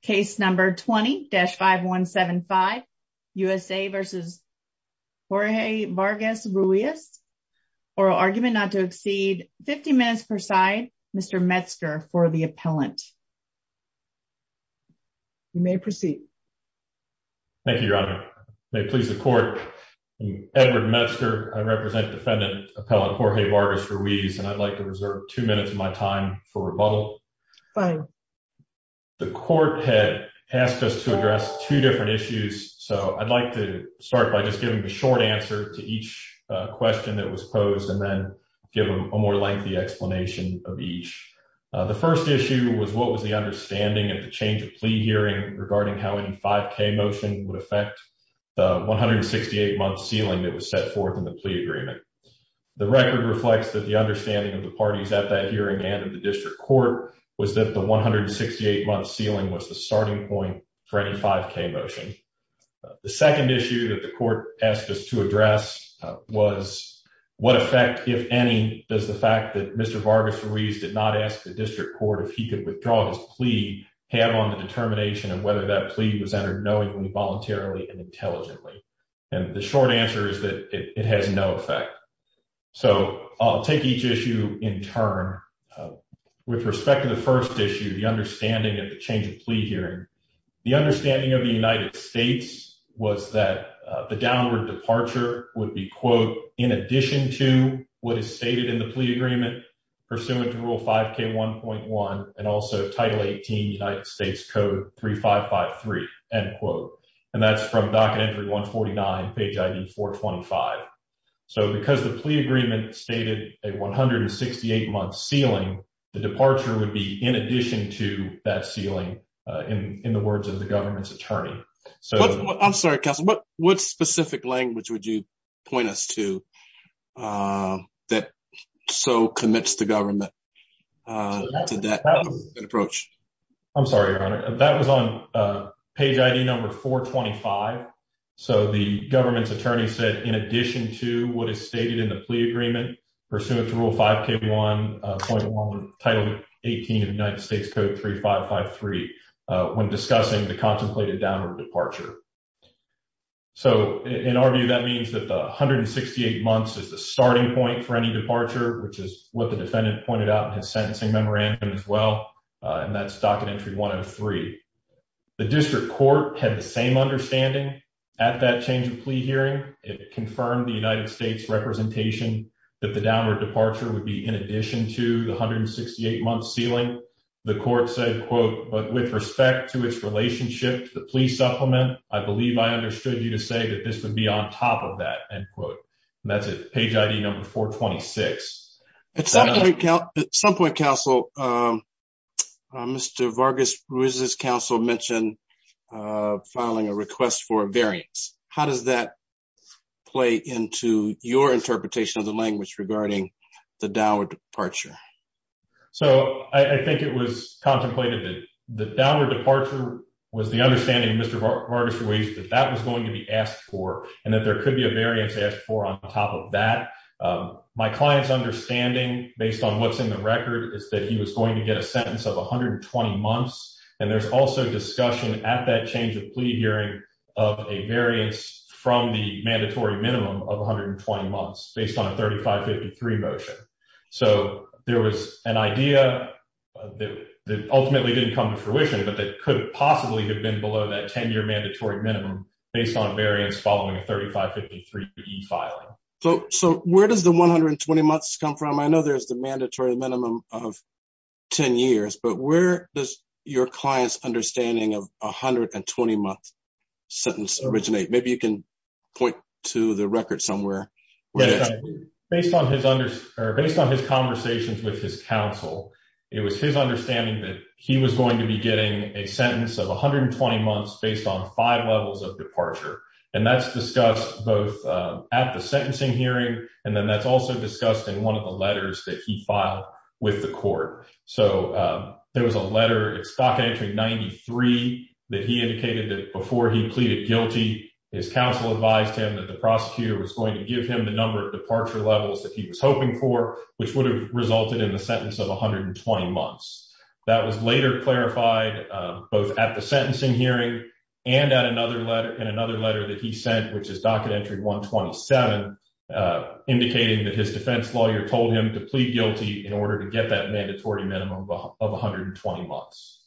case number 20-5175 USA v. Jorge Vargas-Ruiz. Oral argument not to exceed 50 minutes per side. Mr. Metzger for the appellant. You may proceed. Thank you, Your Honor. May it please the court. Edward Metzger. I represent defendant appellant Jorge Vargas-Ruiz and I'd like to reserve two minutes of time for rebuttal. Fine. The court had asked us to address two different issues. So I'd like to start by just giving the short answer to each question that was posed and then give them a more lengthy explanation of each. The first issue was what was the understanding of the change of plea hearing regarding how any 5k motion would affect the 168 month ceiling that was set forth in the plea agreement. The record reflects that the understanding of the parties at that district court was that the 168 month ceiling was the starting point for any 5k motion. The second issue that the court asked us to address was what effect, if any, does the fact that Mr. Vargas-Ruiz did not ask the district court if he could withdraw his plea have on the determination of whether that plea was entered knowingly, voluntarily, and intelligently. And the short answer is that it has no effect. So I'll take each issue in turn. With respect to the first issue, the understanding of the change of plea hearing, the understanding of the United States was that the downward departure would be, quote, in addition to what is stated in the plea agreement pursuant to rule 5k 1.1 and also Title 18 United States Code 3553, end quote. And that's from Docket Entry 149, page IV-425. So because the plea agreement stated a 168 month ceiling, the departure would be in addition to that ceiling in the words of the government's attorney. I'm sorry, Counselor, what specific language would you point us to that so commits the government to that approach? I'm sorry, Your Honor. That was on page IV-425. So the government's attorney said, in addition to what is stated in the plea agreement pursuant to rule 5k 1.1 Title 18 of United States Code 3553 when discussing the contemplated downward departure. So in our view, that means that the 168 months is the starting point for any departure, which is what the defendant pointed out in his sentencing memorandum as well. And that's Docket Entry 103. The district court had the same understanding at that change of plea hearing. It confirmed the United States representation that the downward departure would be in addition to the 168 month ceiling. The court said, quote, but with respect to its supplement, I believe I understood you to say that this would be on top of that, end quote. And that's at page IV-426. At some point, Counselor, Mr. Vargas-Ruiz's counsel mentioned filing a request for a variance. How does that play into your interpretation of the language regarding the downward departure? So I think it was contemplated that the downward departure was the understanding of Mr. Vargas-Ruiz that that was going to be asked for and that there could be a variance asked for on top of that. My client's understanding, based on what's in the record, is that he was going to get a sentence of 120 months. And there's also discussion at that change of plea hearing of a variance from the mandatory minimum of 120 months based on a 3553 motion. So there was an idea that ultimately didn't come to fruition, but that could possibly have been below that 10-year mandatory minimum based on variance following a 3553 e-filing. So where does the 120 months come from? I know there's the mandatory minimum of 10 years, but where does your client's understanding of a 120-month sentence originate? Maybe you can point to the record somewhere. Yes, based on his conversations with his counsel, it was his understanding that he was going to be getting a sentence of 120 months based on five levels of departure. And that's discussed both at the sentencing hearing, and then that's also discussed in one of the letters that he filed with the court. So there was a letter at Stock Entry 93 that he indicated that before he pleaded guilty, his counsel advised him that the prosecutor was the number of departure levels that he was hoping for, which would have resulted in the sentence of 120 months. That was later clarified both at the sentencing hearing and in another letter that he sent, which is Docket Entry 127, indicating that his defense lawyer told him to plead guilty in order to get that mandatory minimum of 120 months.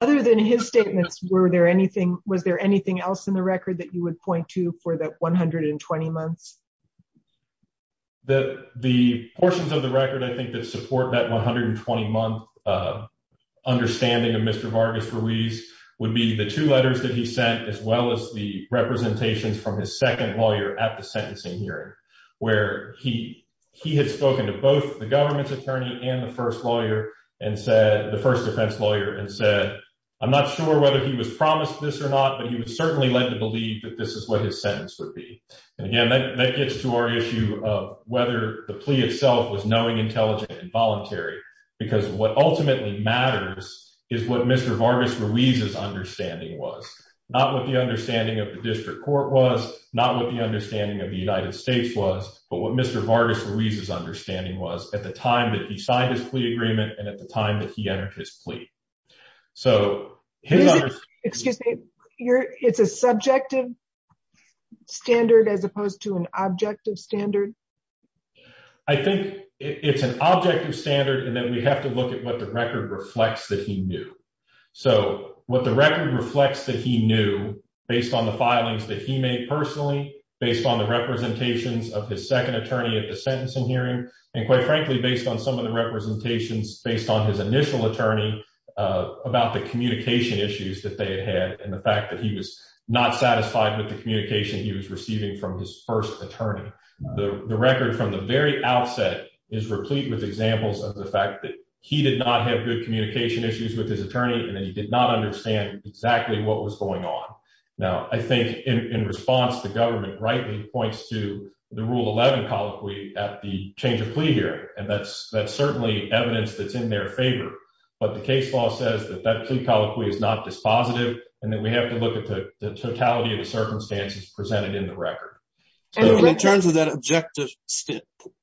Other than his statements, was there anything else in the record that you would point to for that 120 months? The portions of the record, I think, that support that 120-month understanding of Mr. Vargas Ruiz would be the two letters that he sent, as well as the representations from his second lawyer at the sentencing hearing, where he had spoken to both the government's attorney and the first defense lawyer and said, I'm not sure whether he was And again, that gets to our issue of whether the plea itself was knowing, intelligent, and voluntary, because what ultimately matters is what Mr. Vargas Ruiz's understanding was, not what the understanding of the district court was, not what the understanding of the United States was, but what Mr. Vargas Ruiz's understanding was at the time that he signed his plea agreement and at the time that he entered his plea. So his... Excuse me, it's a subjective standard as opposed to an objective standard? I think it's an objective standard, and then we have to look at what the record reflects that he knew. So what the record reflects that he knew, based on the filings that he made personally, based on the representations of his second attorney at the sentencing hearing, and quite frankly, based on some of the representations based on his initial attorney about the communication issues that they had had and the fact that he was not satisfied with the communication he was receiving from his first attorney. The record from the very outset is replete with examples of the fact that he did not have good communication issues with his attorney and that he did not understand exactly what was going on. Now, I think in response, the government rightly points to the Rule 11 colloquy at the change of plea hearing, and that's certainly evidence that's in their favor, but the case law says that that plea colloquy is not dispositive and that we have to look at the totality of the circumstances presented in the record. In terms of that objective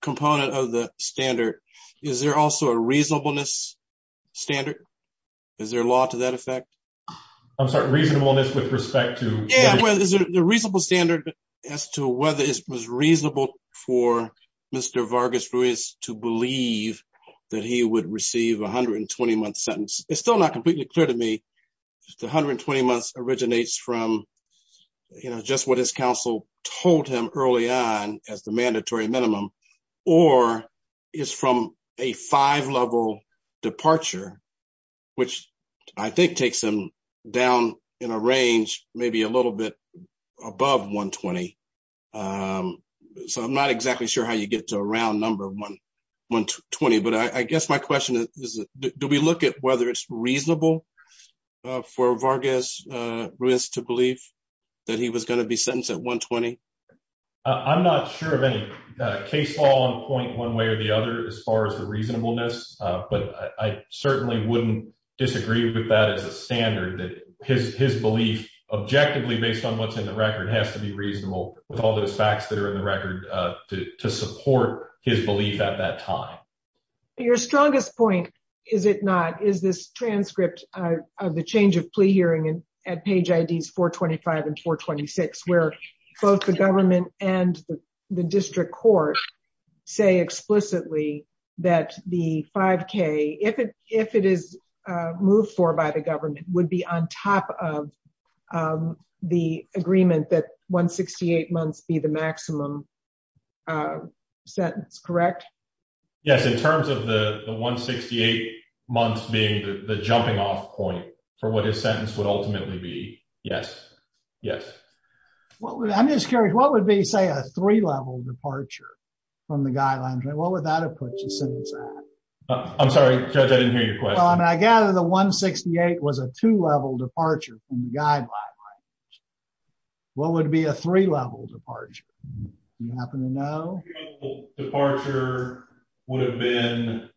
component of the standard, is there also a reasonableness standard? Is there a law to that effect? I'm sorry, reasonableness with respect to... Yeah, well, is there a reasonable standard as to whether it was reasonable for Mr. Vargas-Ruiz to believe that he would receive a 120-month sentence? It's still not completely clear to me if the 120 months originates from just what his counsel told him early on as the mandatory minimum or is from a five-level departure, which I think takes him down in a range maybe a little bit above 120. So, I'm not exactly sure how you get to a round number 120, but I guess my question is, do we look at whether it's reasonable for Vargas-Ruiz to believe that he was going to be sentenced at 120? I'm not sure of any case law on point one way or the other as far as the reasonableness, but I certainly wouldn't disagree with that as a standard that his belief objectively based on what's in the record has to be reasonable with all those facts that are in the record to support his belief at that time. Your strongest point, is it not, is this transcript of the change of plea hearing at page IDs 425 and 426, where both the government and the district court say explicitly that the 5K, if it is moved for by the government, would be on top of the agreement that 168 months be the maximum sentence, correct? Yes, in terms of the 168 months being the jumping off point for what his sentence would ultimately be, yes. I'm just curious, what would be, say, a three-level departure from the guidelines? What would that have put your sentence at? I'm sorry, Judge, I didn't hear your question. Well, I mean, I gather the 168 was a two-level departure from the guidelines. What would be a three-level departure? Do you happen to know? A three-level departure would have been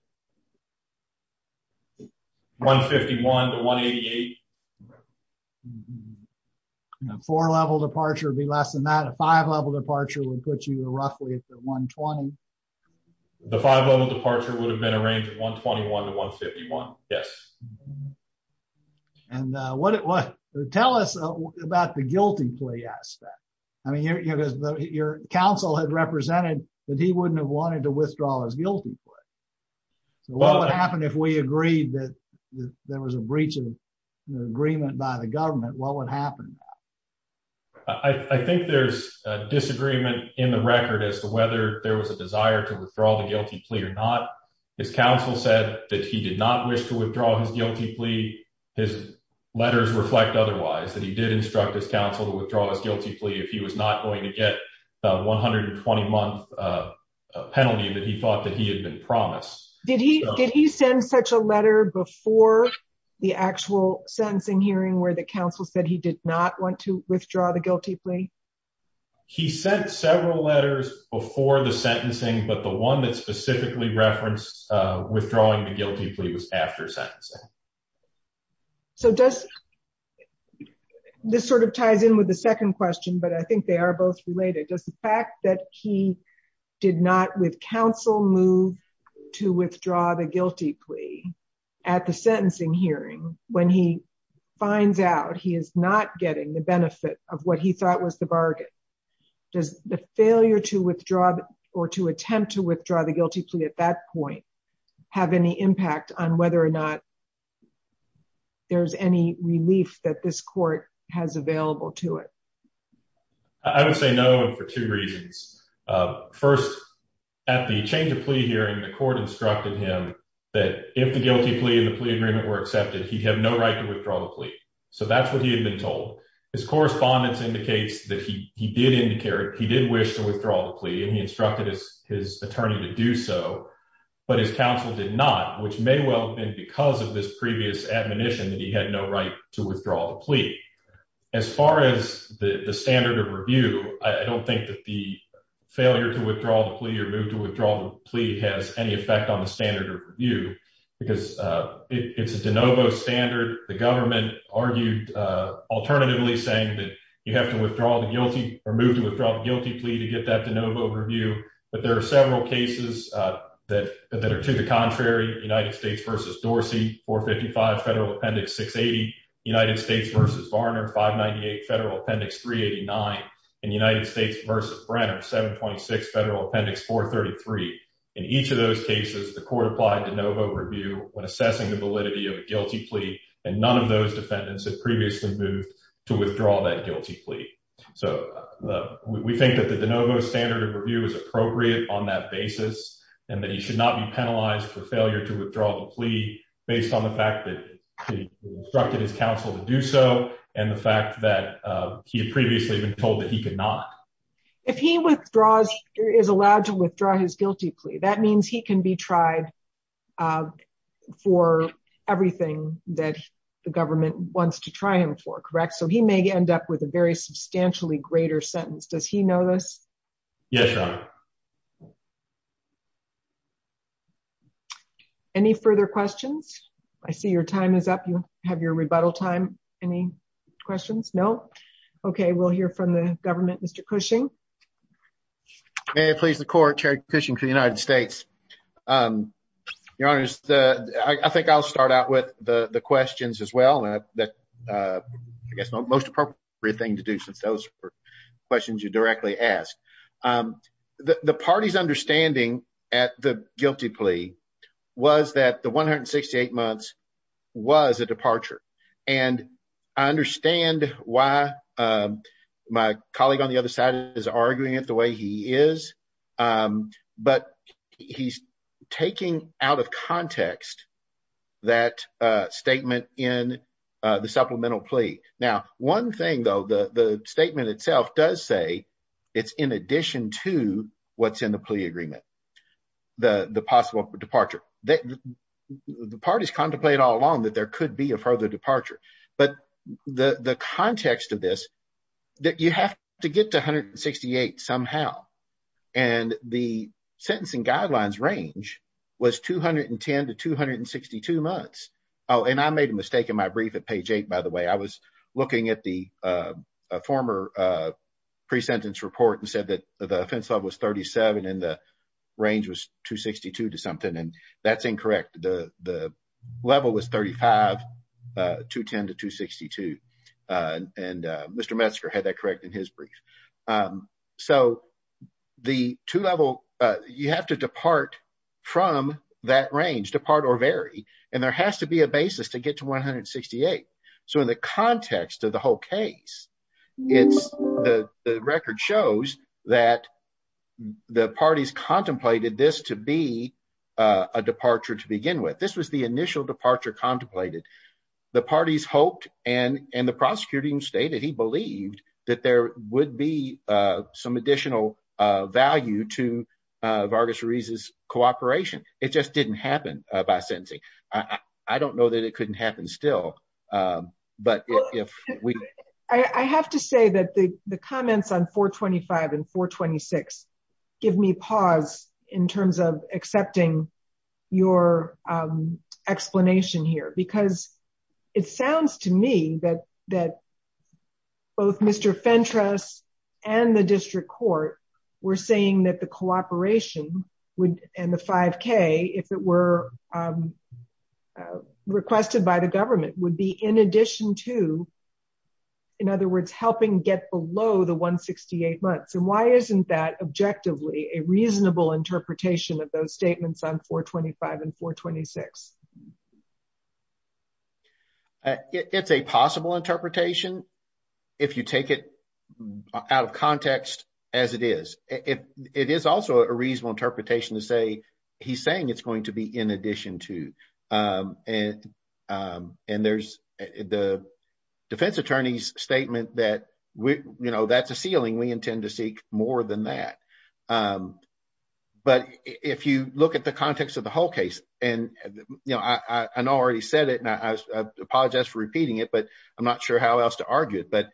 151 to 188. Four-level departure would be less than that. A five-level departure would put you roughly at the 120. The five-level departure would have been a range of 121 to 151, yes. And what, tell us about the guilty plea aspect. I mean, your counsel had represented that he wouldn't have wanted to withdraw his guilty plea. So what would happen if we agreed that there was a breach of agreement by the government? What would happen? I think there's a disagreement in the record as to whether there was a desire to withdraw the guilty plea or not. His counsel said that he did not wish to withdraw his guilty plea. His letters reflect otherwise, that he did instruct his counsel to withdraw his guilty plea if he was not going to get the 120-month penalty that he thought that he had been promised. Did he send such a letter before the actual sentencing hearing where the counsel said he did not want to withdraw the guilty plea? He sent several letters before the sentencing, but the one that specifically referenced withdrawing the guilty plea was after sentencing. So does, this sort of ties in with the second question, but I think they are both related. Does the fact that he did not with counsel move to withdraw the guilty plea at the sentencing hearing, when he finds out he is not getting the benefit of what he thought was the bargain, does the failure to withdraw or to attempt to withdraw the guilty plea at that point have any impact on whether or not there's any relief that this court has available to it? I would say no, and for two reasons. First, at the change of plea hearing, the court instructed him that if the guilty plea and the plea agreement were accepted, he'd have no right to withdraw the plea. So that's what he had been told. His correspondence indicates that he did wish to withdraw the plea, and he instructed his attorney to do so, but his counsel did not, which may well have been because of this previous admonition that he had no right to withdraw the plea. As far as the standard of review, I don't think that the effect on the standard of review, because it's a de novo standard. The government argued alternatively saying that you have to withdraw the guilty or move to withdraw the guilty plea to get that de novo review, but there are several cases that are to the contrary, United States versus Dorsey, 455 Federal Appendix 680, United States versus Varner, 598 Federal Appendix 389, and United States. In each of those cases, the court applied de novo review when assessing the validity of a guilty plea, and none of those defendants had previously moved to withdraw that guilty plea. So we think that the de novo standard of review is appropriate on that basis, and that he should not be penalized for failure to withdraw the plea based on the fact that he instructed his counsel to do so, and the fact that he had previously been told that he could not. If he withdraws, is allowed to withdraw his guilty plea, that means he can be tried for everything that the government wants to try him for, correct? So he may end up with a very substantially greater sentence. Does he know this? Yes, Your Honor. Any further questions? I see your time is up. You have your rebuttal time. Any questions? No? Okay, we'll hear from the government. Mr. Cushing. May it please the Court, Chair Cushing for the United States. Your Honor, I think I'll start out with the questions as well. I guess the most appropriate thing to do since those were questions you directly asked. The party's understanding at the guilty plea was that the I understand why my colleague on the other side is arguing it the way he is, but he's taking out of context that statement in the supplemental plea. Now, one thing though, the statement itself does say it's in addition to what's in the plea agreement, the possible departure. The parties contemplate all along that there could be a further departure. But the context of this, you have to get to 168 somehow, and the sentencing guidelines range was 210 to 262 months. Oh, and I made a mistake in my brief at page 8, by the way. I was looking at the former pre-sentence report and said that the offense level was 37 and the range was 262 to something, and that's incorrect. The level was 35, 210 to 262, and Mr. Metzger had that correct in his brief. You have to depart from that range, depart or vary, and there has to be a basis to get to 168. So in the context of the whole case, the record shows that the parties contemplated this to be a departure to begin with. This was the initial departure contemplated. The parties hoped, and the prosecutor even stated he believed, that there would be some additional value to Vargas Ruiz's cooperation. It just didn't happen by sentencing. I don't know that it couldn't happen still, but if we... I have to say that the comments on 425 and 426 give me pause in terms of accepting your explanation here, because it sounds to me that both Mr. Fentress and the district court were saying that the cooperation would, and the 5k, if it were requested by the government, would be in addition to, in other words, helping get below the 168 months. And why isn't that objectively a reasonable interpretation of those statements on 425 and 426? It's a possible interpretation if you take it out of context as it is. It is also a reasonable interpretation to say he's saying it's going to be in addition to, and there's the attorney's statement that that's a ceiling. We intend to seek more than that. But if you look at the context of the whole case, and I know I already said it, and I apologize for repeating it, but I'm not sure how else to argue it, but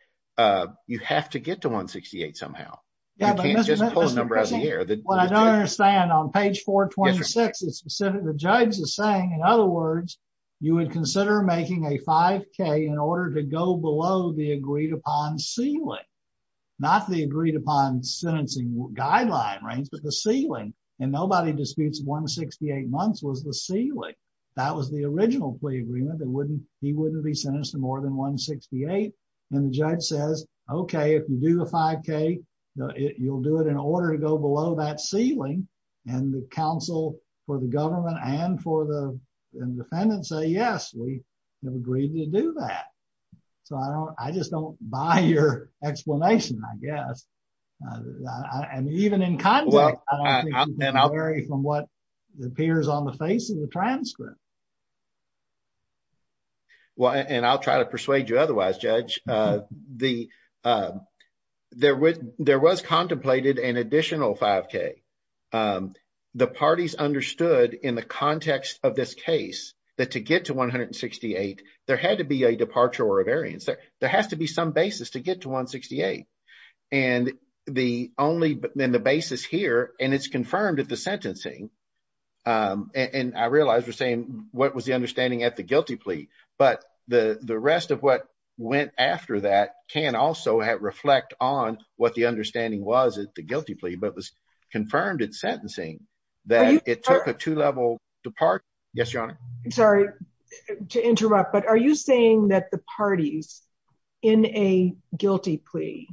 you have to get to 168 somehow. You can't just pull a number out of the air. What I don't understand on page 426, the judge is saying, in other words, you would consider making a 5k in order to go below the agreed upon ceiling, not the agreed upon sentencing guideline range, but the ceiling. And nobody disputes 168 months was the ceiling. That was the original plea agreement that he wouldn't be sentenced to more than 168. And the judge says, okay, if you do the 5k, you'll do it in order to go below that ceiling. And the counsel for the government and for the defendant say, yes, we have agreed to do that. So I don't, I just don't buy your explanation, I guess. And even in context, from what appears on the face of the transcript. Well, and I'll try to persuade you otherwise, Judge. There was contemplated an additional 5k. The parties understood in the context of this case, that to get to 168, there had to be a departure or a variance. There has to be some basis to get to 168. And the basis here, and it's confirmed at the sentencing. And I realize we're saying, what was the understanding at the guilty plea? But the rest of what went after that can also reflect on what the understanding was the guilty plea, but was confirmed in sentencing, that it took a two-level depart. Yes, Your Honor. Sorry to interrupt, but are you saying that the parties in a guilty plea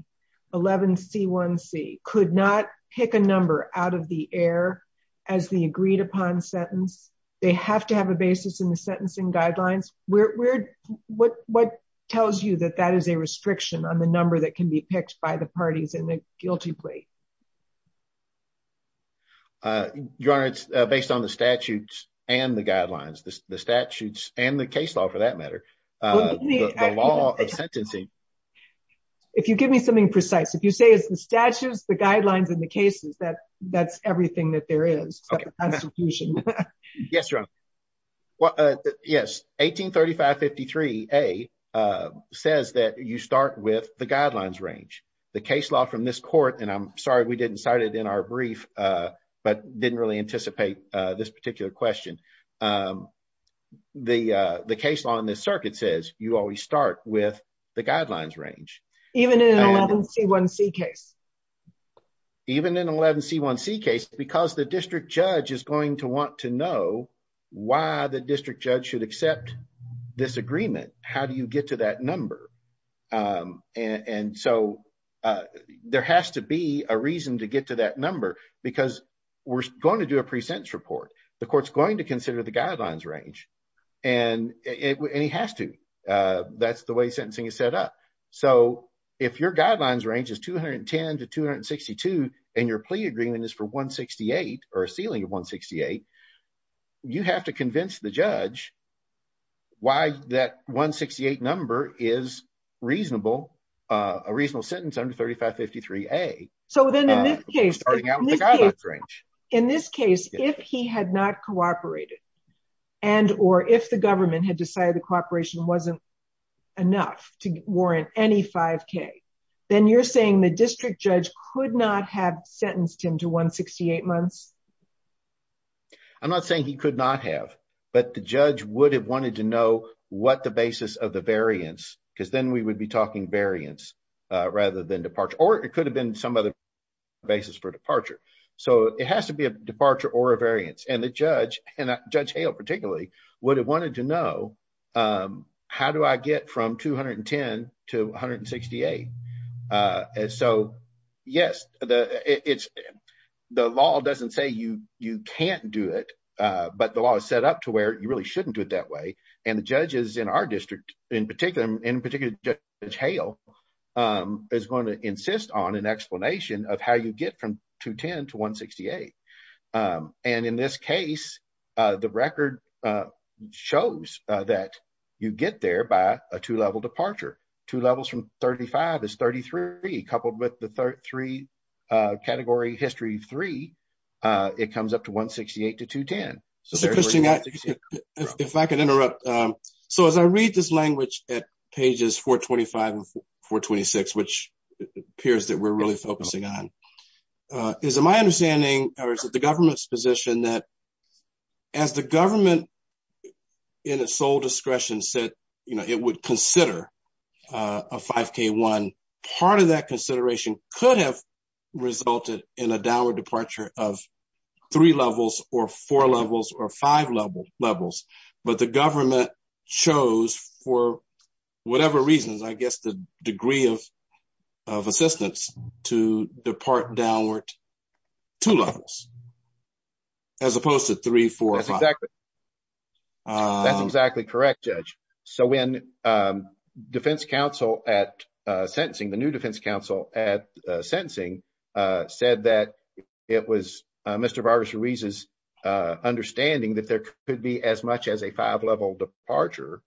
11C1C could not pick a number out of the air as the agreed upon sentence, they have to have a basis in the sentencing guidelines? What tells you that that is a restriction on the number that can be picked by the parties in the guilty plea? Your Honor, it's based on the statutes and the guidelines, the statutes and the case law for that matter, the law of sentencing. If you give me something precise, if you say it's the statutes, the guidelines and the cases, that's everything that there is. Yes, Your Honor. Yes, 183553A says that you start with the guidelines range. The case law from this court, and I'm sorry we didn't cite it in our brief, but didn't really anticipate this particular question. The case law in this circuit says you always start with the guidelines range. Even in 11C1C case? Even in 11C1C case, because the district judge is going to want to know why the district judge should accept this agreement, how do you get to that there has to be a reason to get to that number because we're going to do a pre-sentence report. The court's going to consider the guidelines range and he has to. That's the way sentencing is set up. If your guidelines range is 210 to 262 and your plea agreement is for 168 or a ceiling A. In this case, if he had not cooperated and or if the government had decided the cooperation wasn't enough to warrant any 5k then you're saying the district judge could not have sentenced him to 168 months? I'm not saying he could not have, but the judge would have wanted to know what the basis of the variance because then we would be talking variance rather than departure or it could have been some other basis for departure. It has to be a departure or a variance and the judge and Judge Hale particularly would have wanted to know how do I get from 210 to 168. The law doesn't say you can't do it, but the law is set up to where you really shouldn't do it that way. The judges in our district, in particular Judge Hale, is going to insist on an explanation of how you get from 210 to 168. In this case, the record shows that you get there by a two-level departure. Two levels from 35 is 33. Coupled with the category history three, it comes up to 168 to So as I read this language at pages 425 and 426, which appears that we're really focusing on, is it my understanding or is it the government's position that as the government in its sole discretion said it would consider a 5k one, part of that consideration could have resulted in a departure of three levels or four levels or five levels, but the government chose for whatever reasons, I guess the degree of assistance to depart downward two levels as opposed to three, four or five. That's exactly correct, Judge. So when defense counsel at sentencing, the new defense counsel at sentencing, said that it was Mr. Vargas Ruiz's understanding that there could be as much as a five-level departure,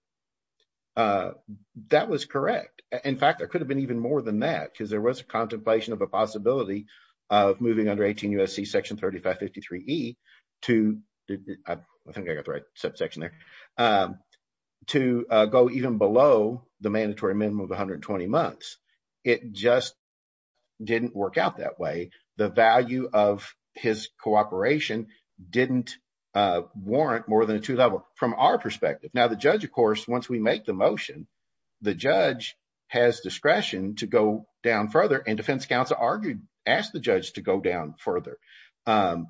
that was correct. In fact, there could have been even more than that because there was a contemplation of a possibility of moving under 18 U.S.C. section 3553E to, I think I got the the mandatory minimum of 120 months. It just didn't work out that way. The value of his cooperation didn't warrant more than a two-level from our perspective. Now the judge, of course, once we make the motion, the judge has discretion to go down further and defense counsel argued, asked the judge to go down further. And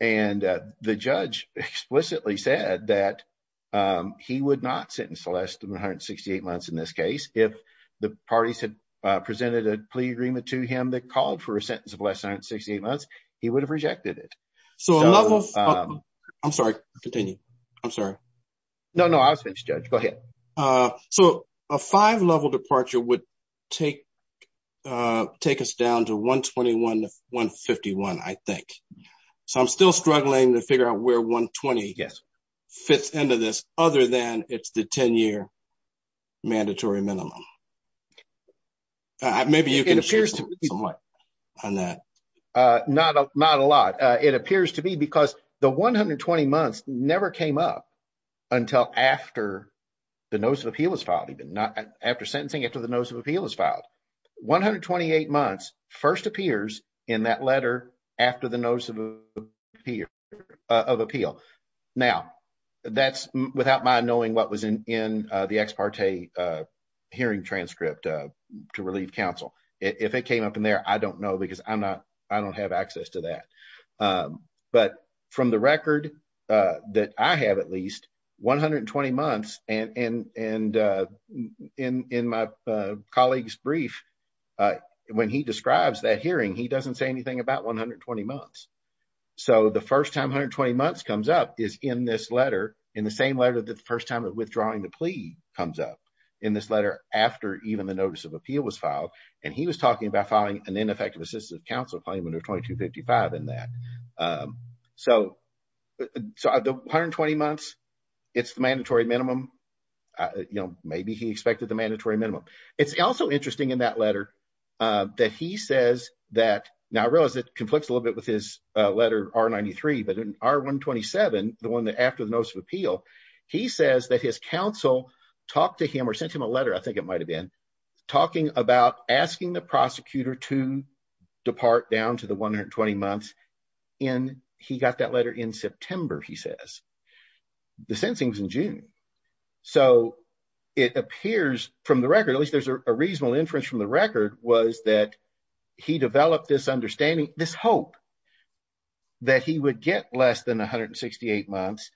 the judge explicitly said that he would not sentence less than 168 months in this case. If the parties had presented a plea agreement to him that called for a sentence of less than 168 months, he would have rejected it. I'm sorry, continue. I'm sorry. No, no, I was finished, Judge. Go ahead. So a five-level departure would take us down to 121 to 151, I think. So I'm still struggling to figure out where 120 fits into this other than it's the 10-year mandatory minimum. Maybe you can share somewhat on that. Not a lot. It appears to be because the 120 months never came up until after the notice of appeal was filed, even after sentencing, after the notice of appeal was filed. 128 months first appears in that letter after the notice of appeal. Now, that's without my knowing what was in the ex parte hearing transcript to relieve counsel. If it came up in there, I don't know because I don't have access to that. But from the record that I have at least, 120 months and in my colleague's brief, when he describes that hearing, he doesn't say anything about 120 months. So the first time 120 months comes up is in this letter, in the same letter that the first time of withdrawing the plea comes up in this letter after even the notice of appeal was filed. And he was talking about filing an ineffective assistance of counsel claim under 2255 in that. So the 120 months, it's the mandatory minimum. Maybe he expected the mandatory minimum. It's also interesting in that letter that he says that, now I realize it conflicts a little bit with his letter R-93, but in R-127, the one that after the notice of appeal, he says that his counsel talked to him or sent him a letter, I think it might have been, talking about asking the prosecutor to depart down to the 120 months and he got that letter in September, he says. The sentencing was in June. So it appears from the record, at least there's a reasonable inference from the record, was that he developed this understanding, this hope that he would get less than 168 months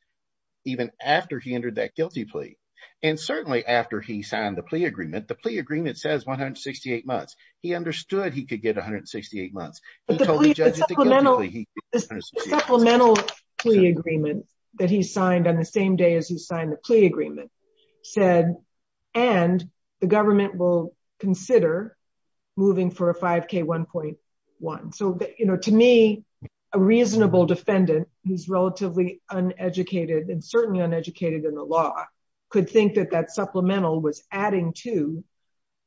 even after he entered that guilty plea. And certainly after he signed the plea agreement, the plea agreement says 168 months. He understood he could get 168 months. The supplemental plea agreement that he signed on the same day as he signed the plea agreement said, and the government will consider moving for a 5k 1.1. So to me, a reasonable defendant who's relatively uneducated and certainly uneducated in the law could think that that supplemental was adding to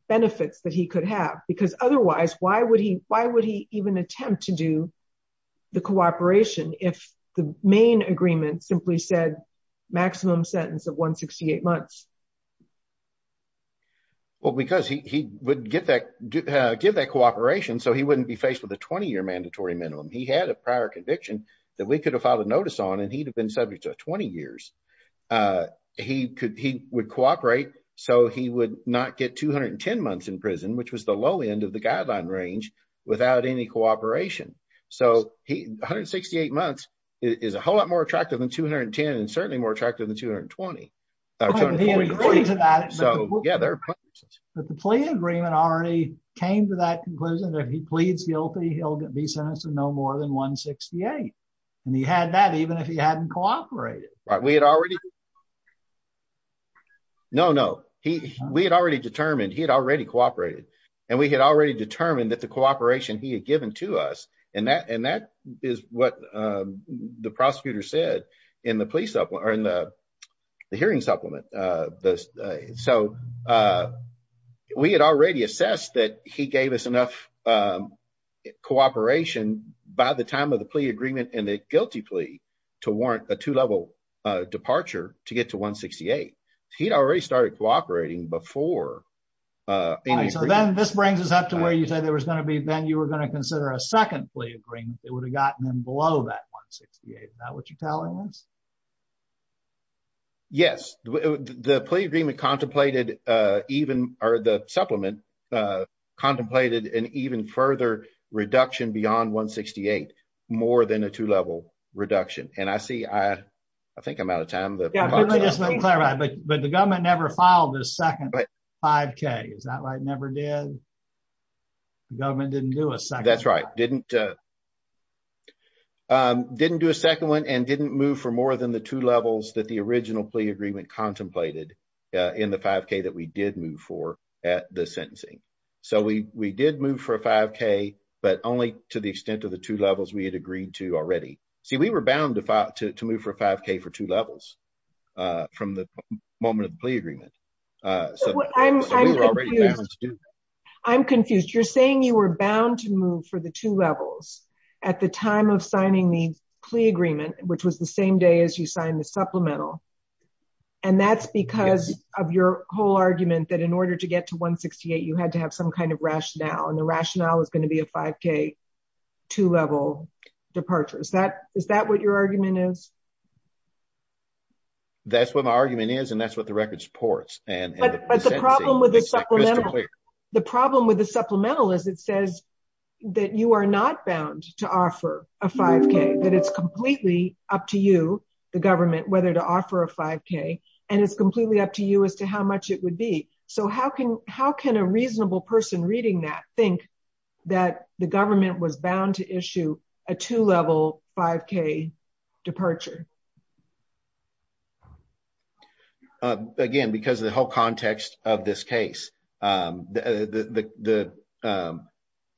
benefits that he could have because otherwise, why would he attempt to do the cooperation if the main agreement simply said maximum sentence of 168 months? Well, because he would give that cooperation so he wouldn't be faced with a 20-year mandatory minimum. He had a prior conviction that we could have filed a notice on and he'd have been subject to 20 years. He would cooperate so he would not get 210 months in prison, which was the low end of the guideline range without any cooperation. So 168 months is a whole lot more attractive than 210 and certainly more attractive than 220. But the plea agreement already came to that conclusion that if he pleads guilty, he'll be sentenced to no more than 168. And he had that even if he hadn't cooperated. We had already determined he had already cooperated. And we had already determined that the cooperation he had given to us, and that is what the prosecutor said in the hearing supplement. So we had already assessed that he gave us enough cooperation by the time of the plea agreement and the guilty plea to warrant a two-level departure to get to 168. He'd already started cooperating before. So then this brings us up to where you said there was going to be, then you were going to consider a second plea agreement that would have gotten him below that 168. Is that what you're telling us? Yes. The plea agreement contemplated, or the supplement contemplated, an even further reduction beyond 168, more than a two-level reduction. And I see, I think I'm out of time. But the government never filed the second 5k. Is that right? Never did? The government didn't do a second one. That's right. Didn't do a second one and didn't move for more than the two levels that the original plea agreement contemplated in the 5k that we did move for a 5k, but only to the extent of the two levels we had agreed to already. See, we were bound to move for a 5k for two levels from the moment of the plea agreement. I'm confused. You're saying you were bound to move for the two levels at the time of signing the plea agreement, which was the same day as you signed the supplemental. And that's because of your whole argument that in order to get to 168, you had to have some kind of rationale, and the rationale is going to be a 5k two-level departure. Is that what your argument is? That's what my argument is, and that's what the record supports. The problem with the supplemental is it says that you are not bound to offer a 5k, that it's completely up to you, the government, whether to offer a 5k, and it's completely up to you as to how much it would be. So, how can a reasonable person reading that think that the government was bound to issue a two-level 5k departure? Again, because of the whole context of this case, the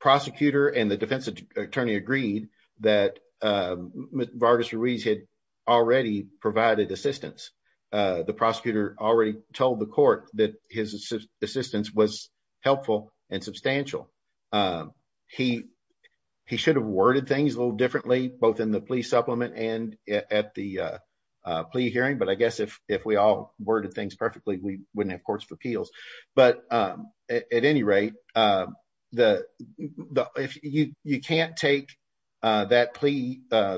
prosecutor and the defense attorney agreed that Mr. Ruiz had already provided assistance. The prosecutor already told the court that his assistance was helpful and substantial. He should have worded things a little differently, both in the plea supplement and at the plea hearing, but I guess if we all worded things that plea,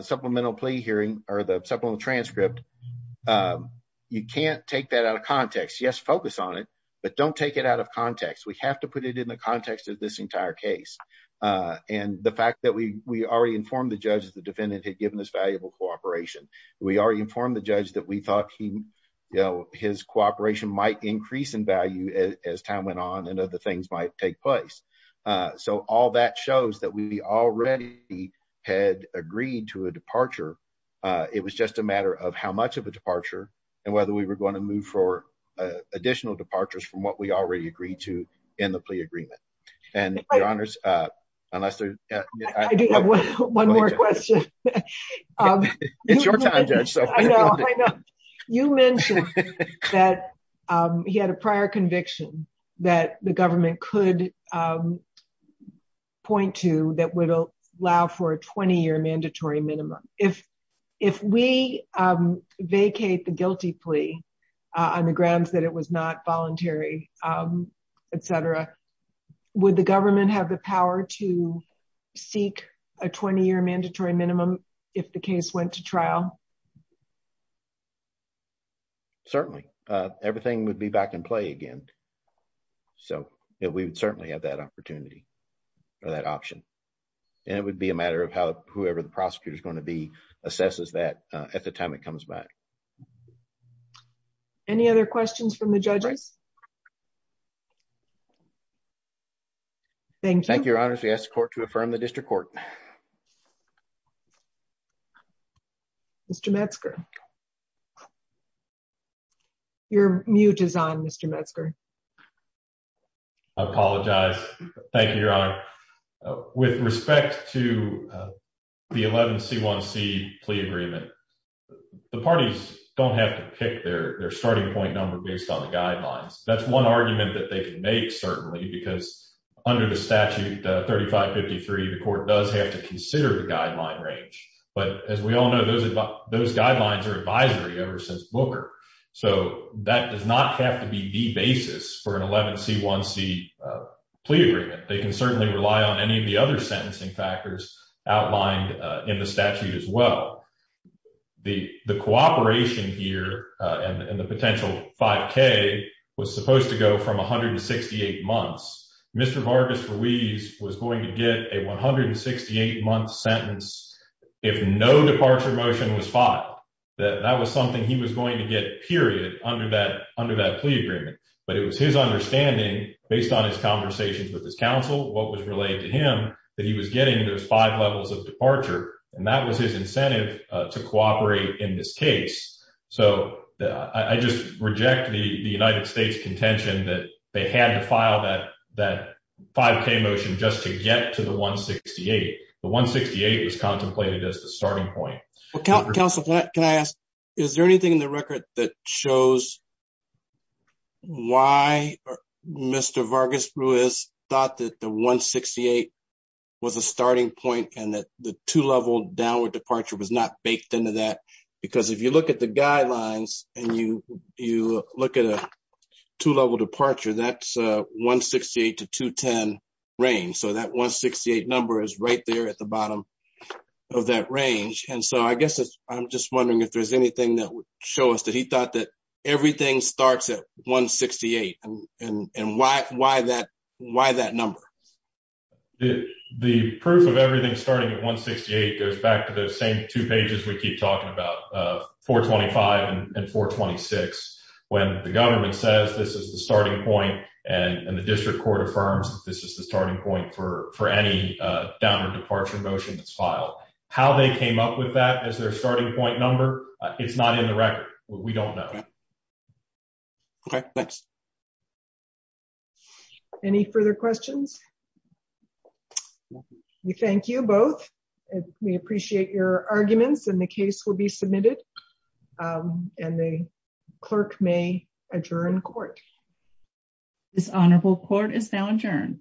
supplemental plea hearing, or the supplemental transcript, you can't take that out of context. Yes, focus on it, but don't take it out of context. We have to put it in the context of this entire case, and the fact that we already informed the judge the defendant had given us valuable cooperation. We already informed the judge that we thought his cooperation might increase in value as time went on and other things might take place. So, all that shows that we already had agreed to a departure. It was just a matter of how much of a departure and whether we were going to move for additional departures from what we already agreed to in the plea agreement. And your honors, unless there's... I do have one more question. It's your time, Judge. I know. You mentioned that he had a prior conviction that the government could point to that would allow for a 20-year mandatory minimum. If we vacate the guilty plea on the grounds that it was not voluntary, etc., would the government have the power to if the case went to trial? Certainly. Everything would be back in play again. So, we would certainly have that opportunity or that option, and it would be a matter of how whoever the prosecutor is going to be assesses that at the time it comes back. Any other questions from the judges? Thank you. Thank you, your honors. We ask the court to affirm the district court. Mr. Metzger. You're mute is on, Mr. Metzger. I apologize. Thank you, your honor. With respect to the 11C1C plea agreement, the parties don't have to pick their starting point number based on the guidelines. That's one argument that they can make, certainly, because under the statute 3553, the court does have to consider the guideline range. But as we all know, those guidelines are advisory ever since Booker. So, that does not have to be the basis for an 11C1C plea agreement. They can certainly rely on any of the other sentencing factors outlined in the statute as well. The cooperation here and the potential 5K was supposed to go from 168 months. Mr. Vargas-Ruiz was going to get a 168-month sentence if no departure motion was filed. That was something he was going to get, period, under that plea agreement. But it was his understanding, based on his conversations with his counsel, what was relayed to him, that he was getting those five levels of departure. And that was his incentive to cooperate in this case. So, I just reject the just to get to the 168. The 168 was contemplated as the starting point. Counsel, can I ask, is there anything in the record that shows why Mr. Vargas-Ruiz thought that the 168 was a starting point and that the two-level downward departure was not baked into that? Because if you look at the guidelines and you look at a two-level departure, that's the 168 to 210 range. So, that 168 number is right there at the bottom of that range. And so, I guess I'm just wondering if there's anything that would show us that he thought that everything starts at 168 and why that number? The proof of everything starting at 168 goes back to those same two pages we keep talking about, 425 and 426, when the government says this is the starting point and the district court affirms that this is the starting point for any downward departure motion that's filed. How they came up with that as their starting point number, it's not in the record. We don't know. Okay, thanks. Any further questions? We thank you both. We appreciate your time. This honorable court is now adjourned.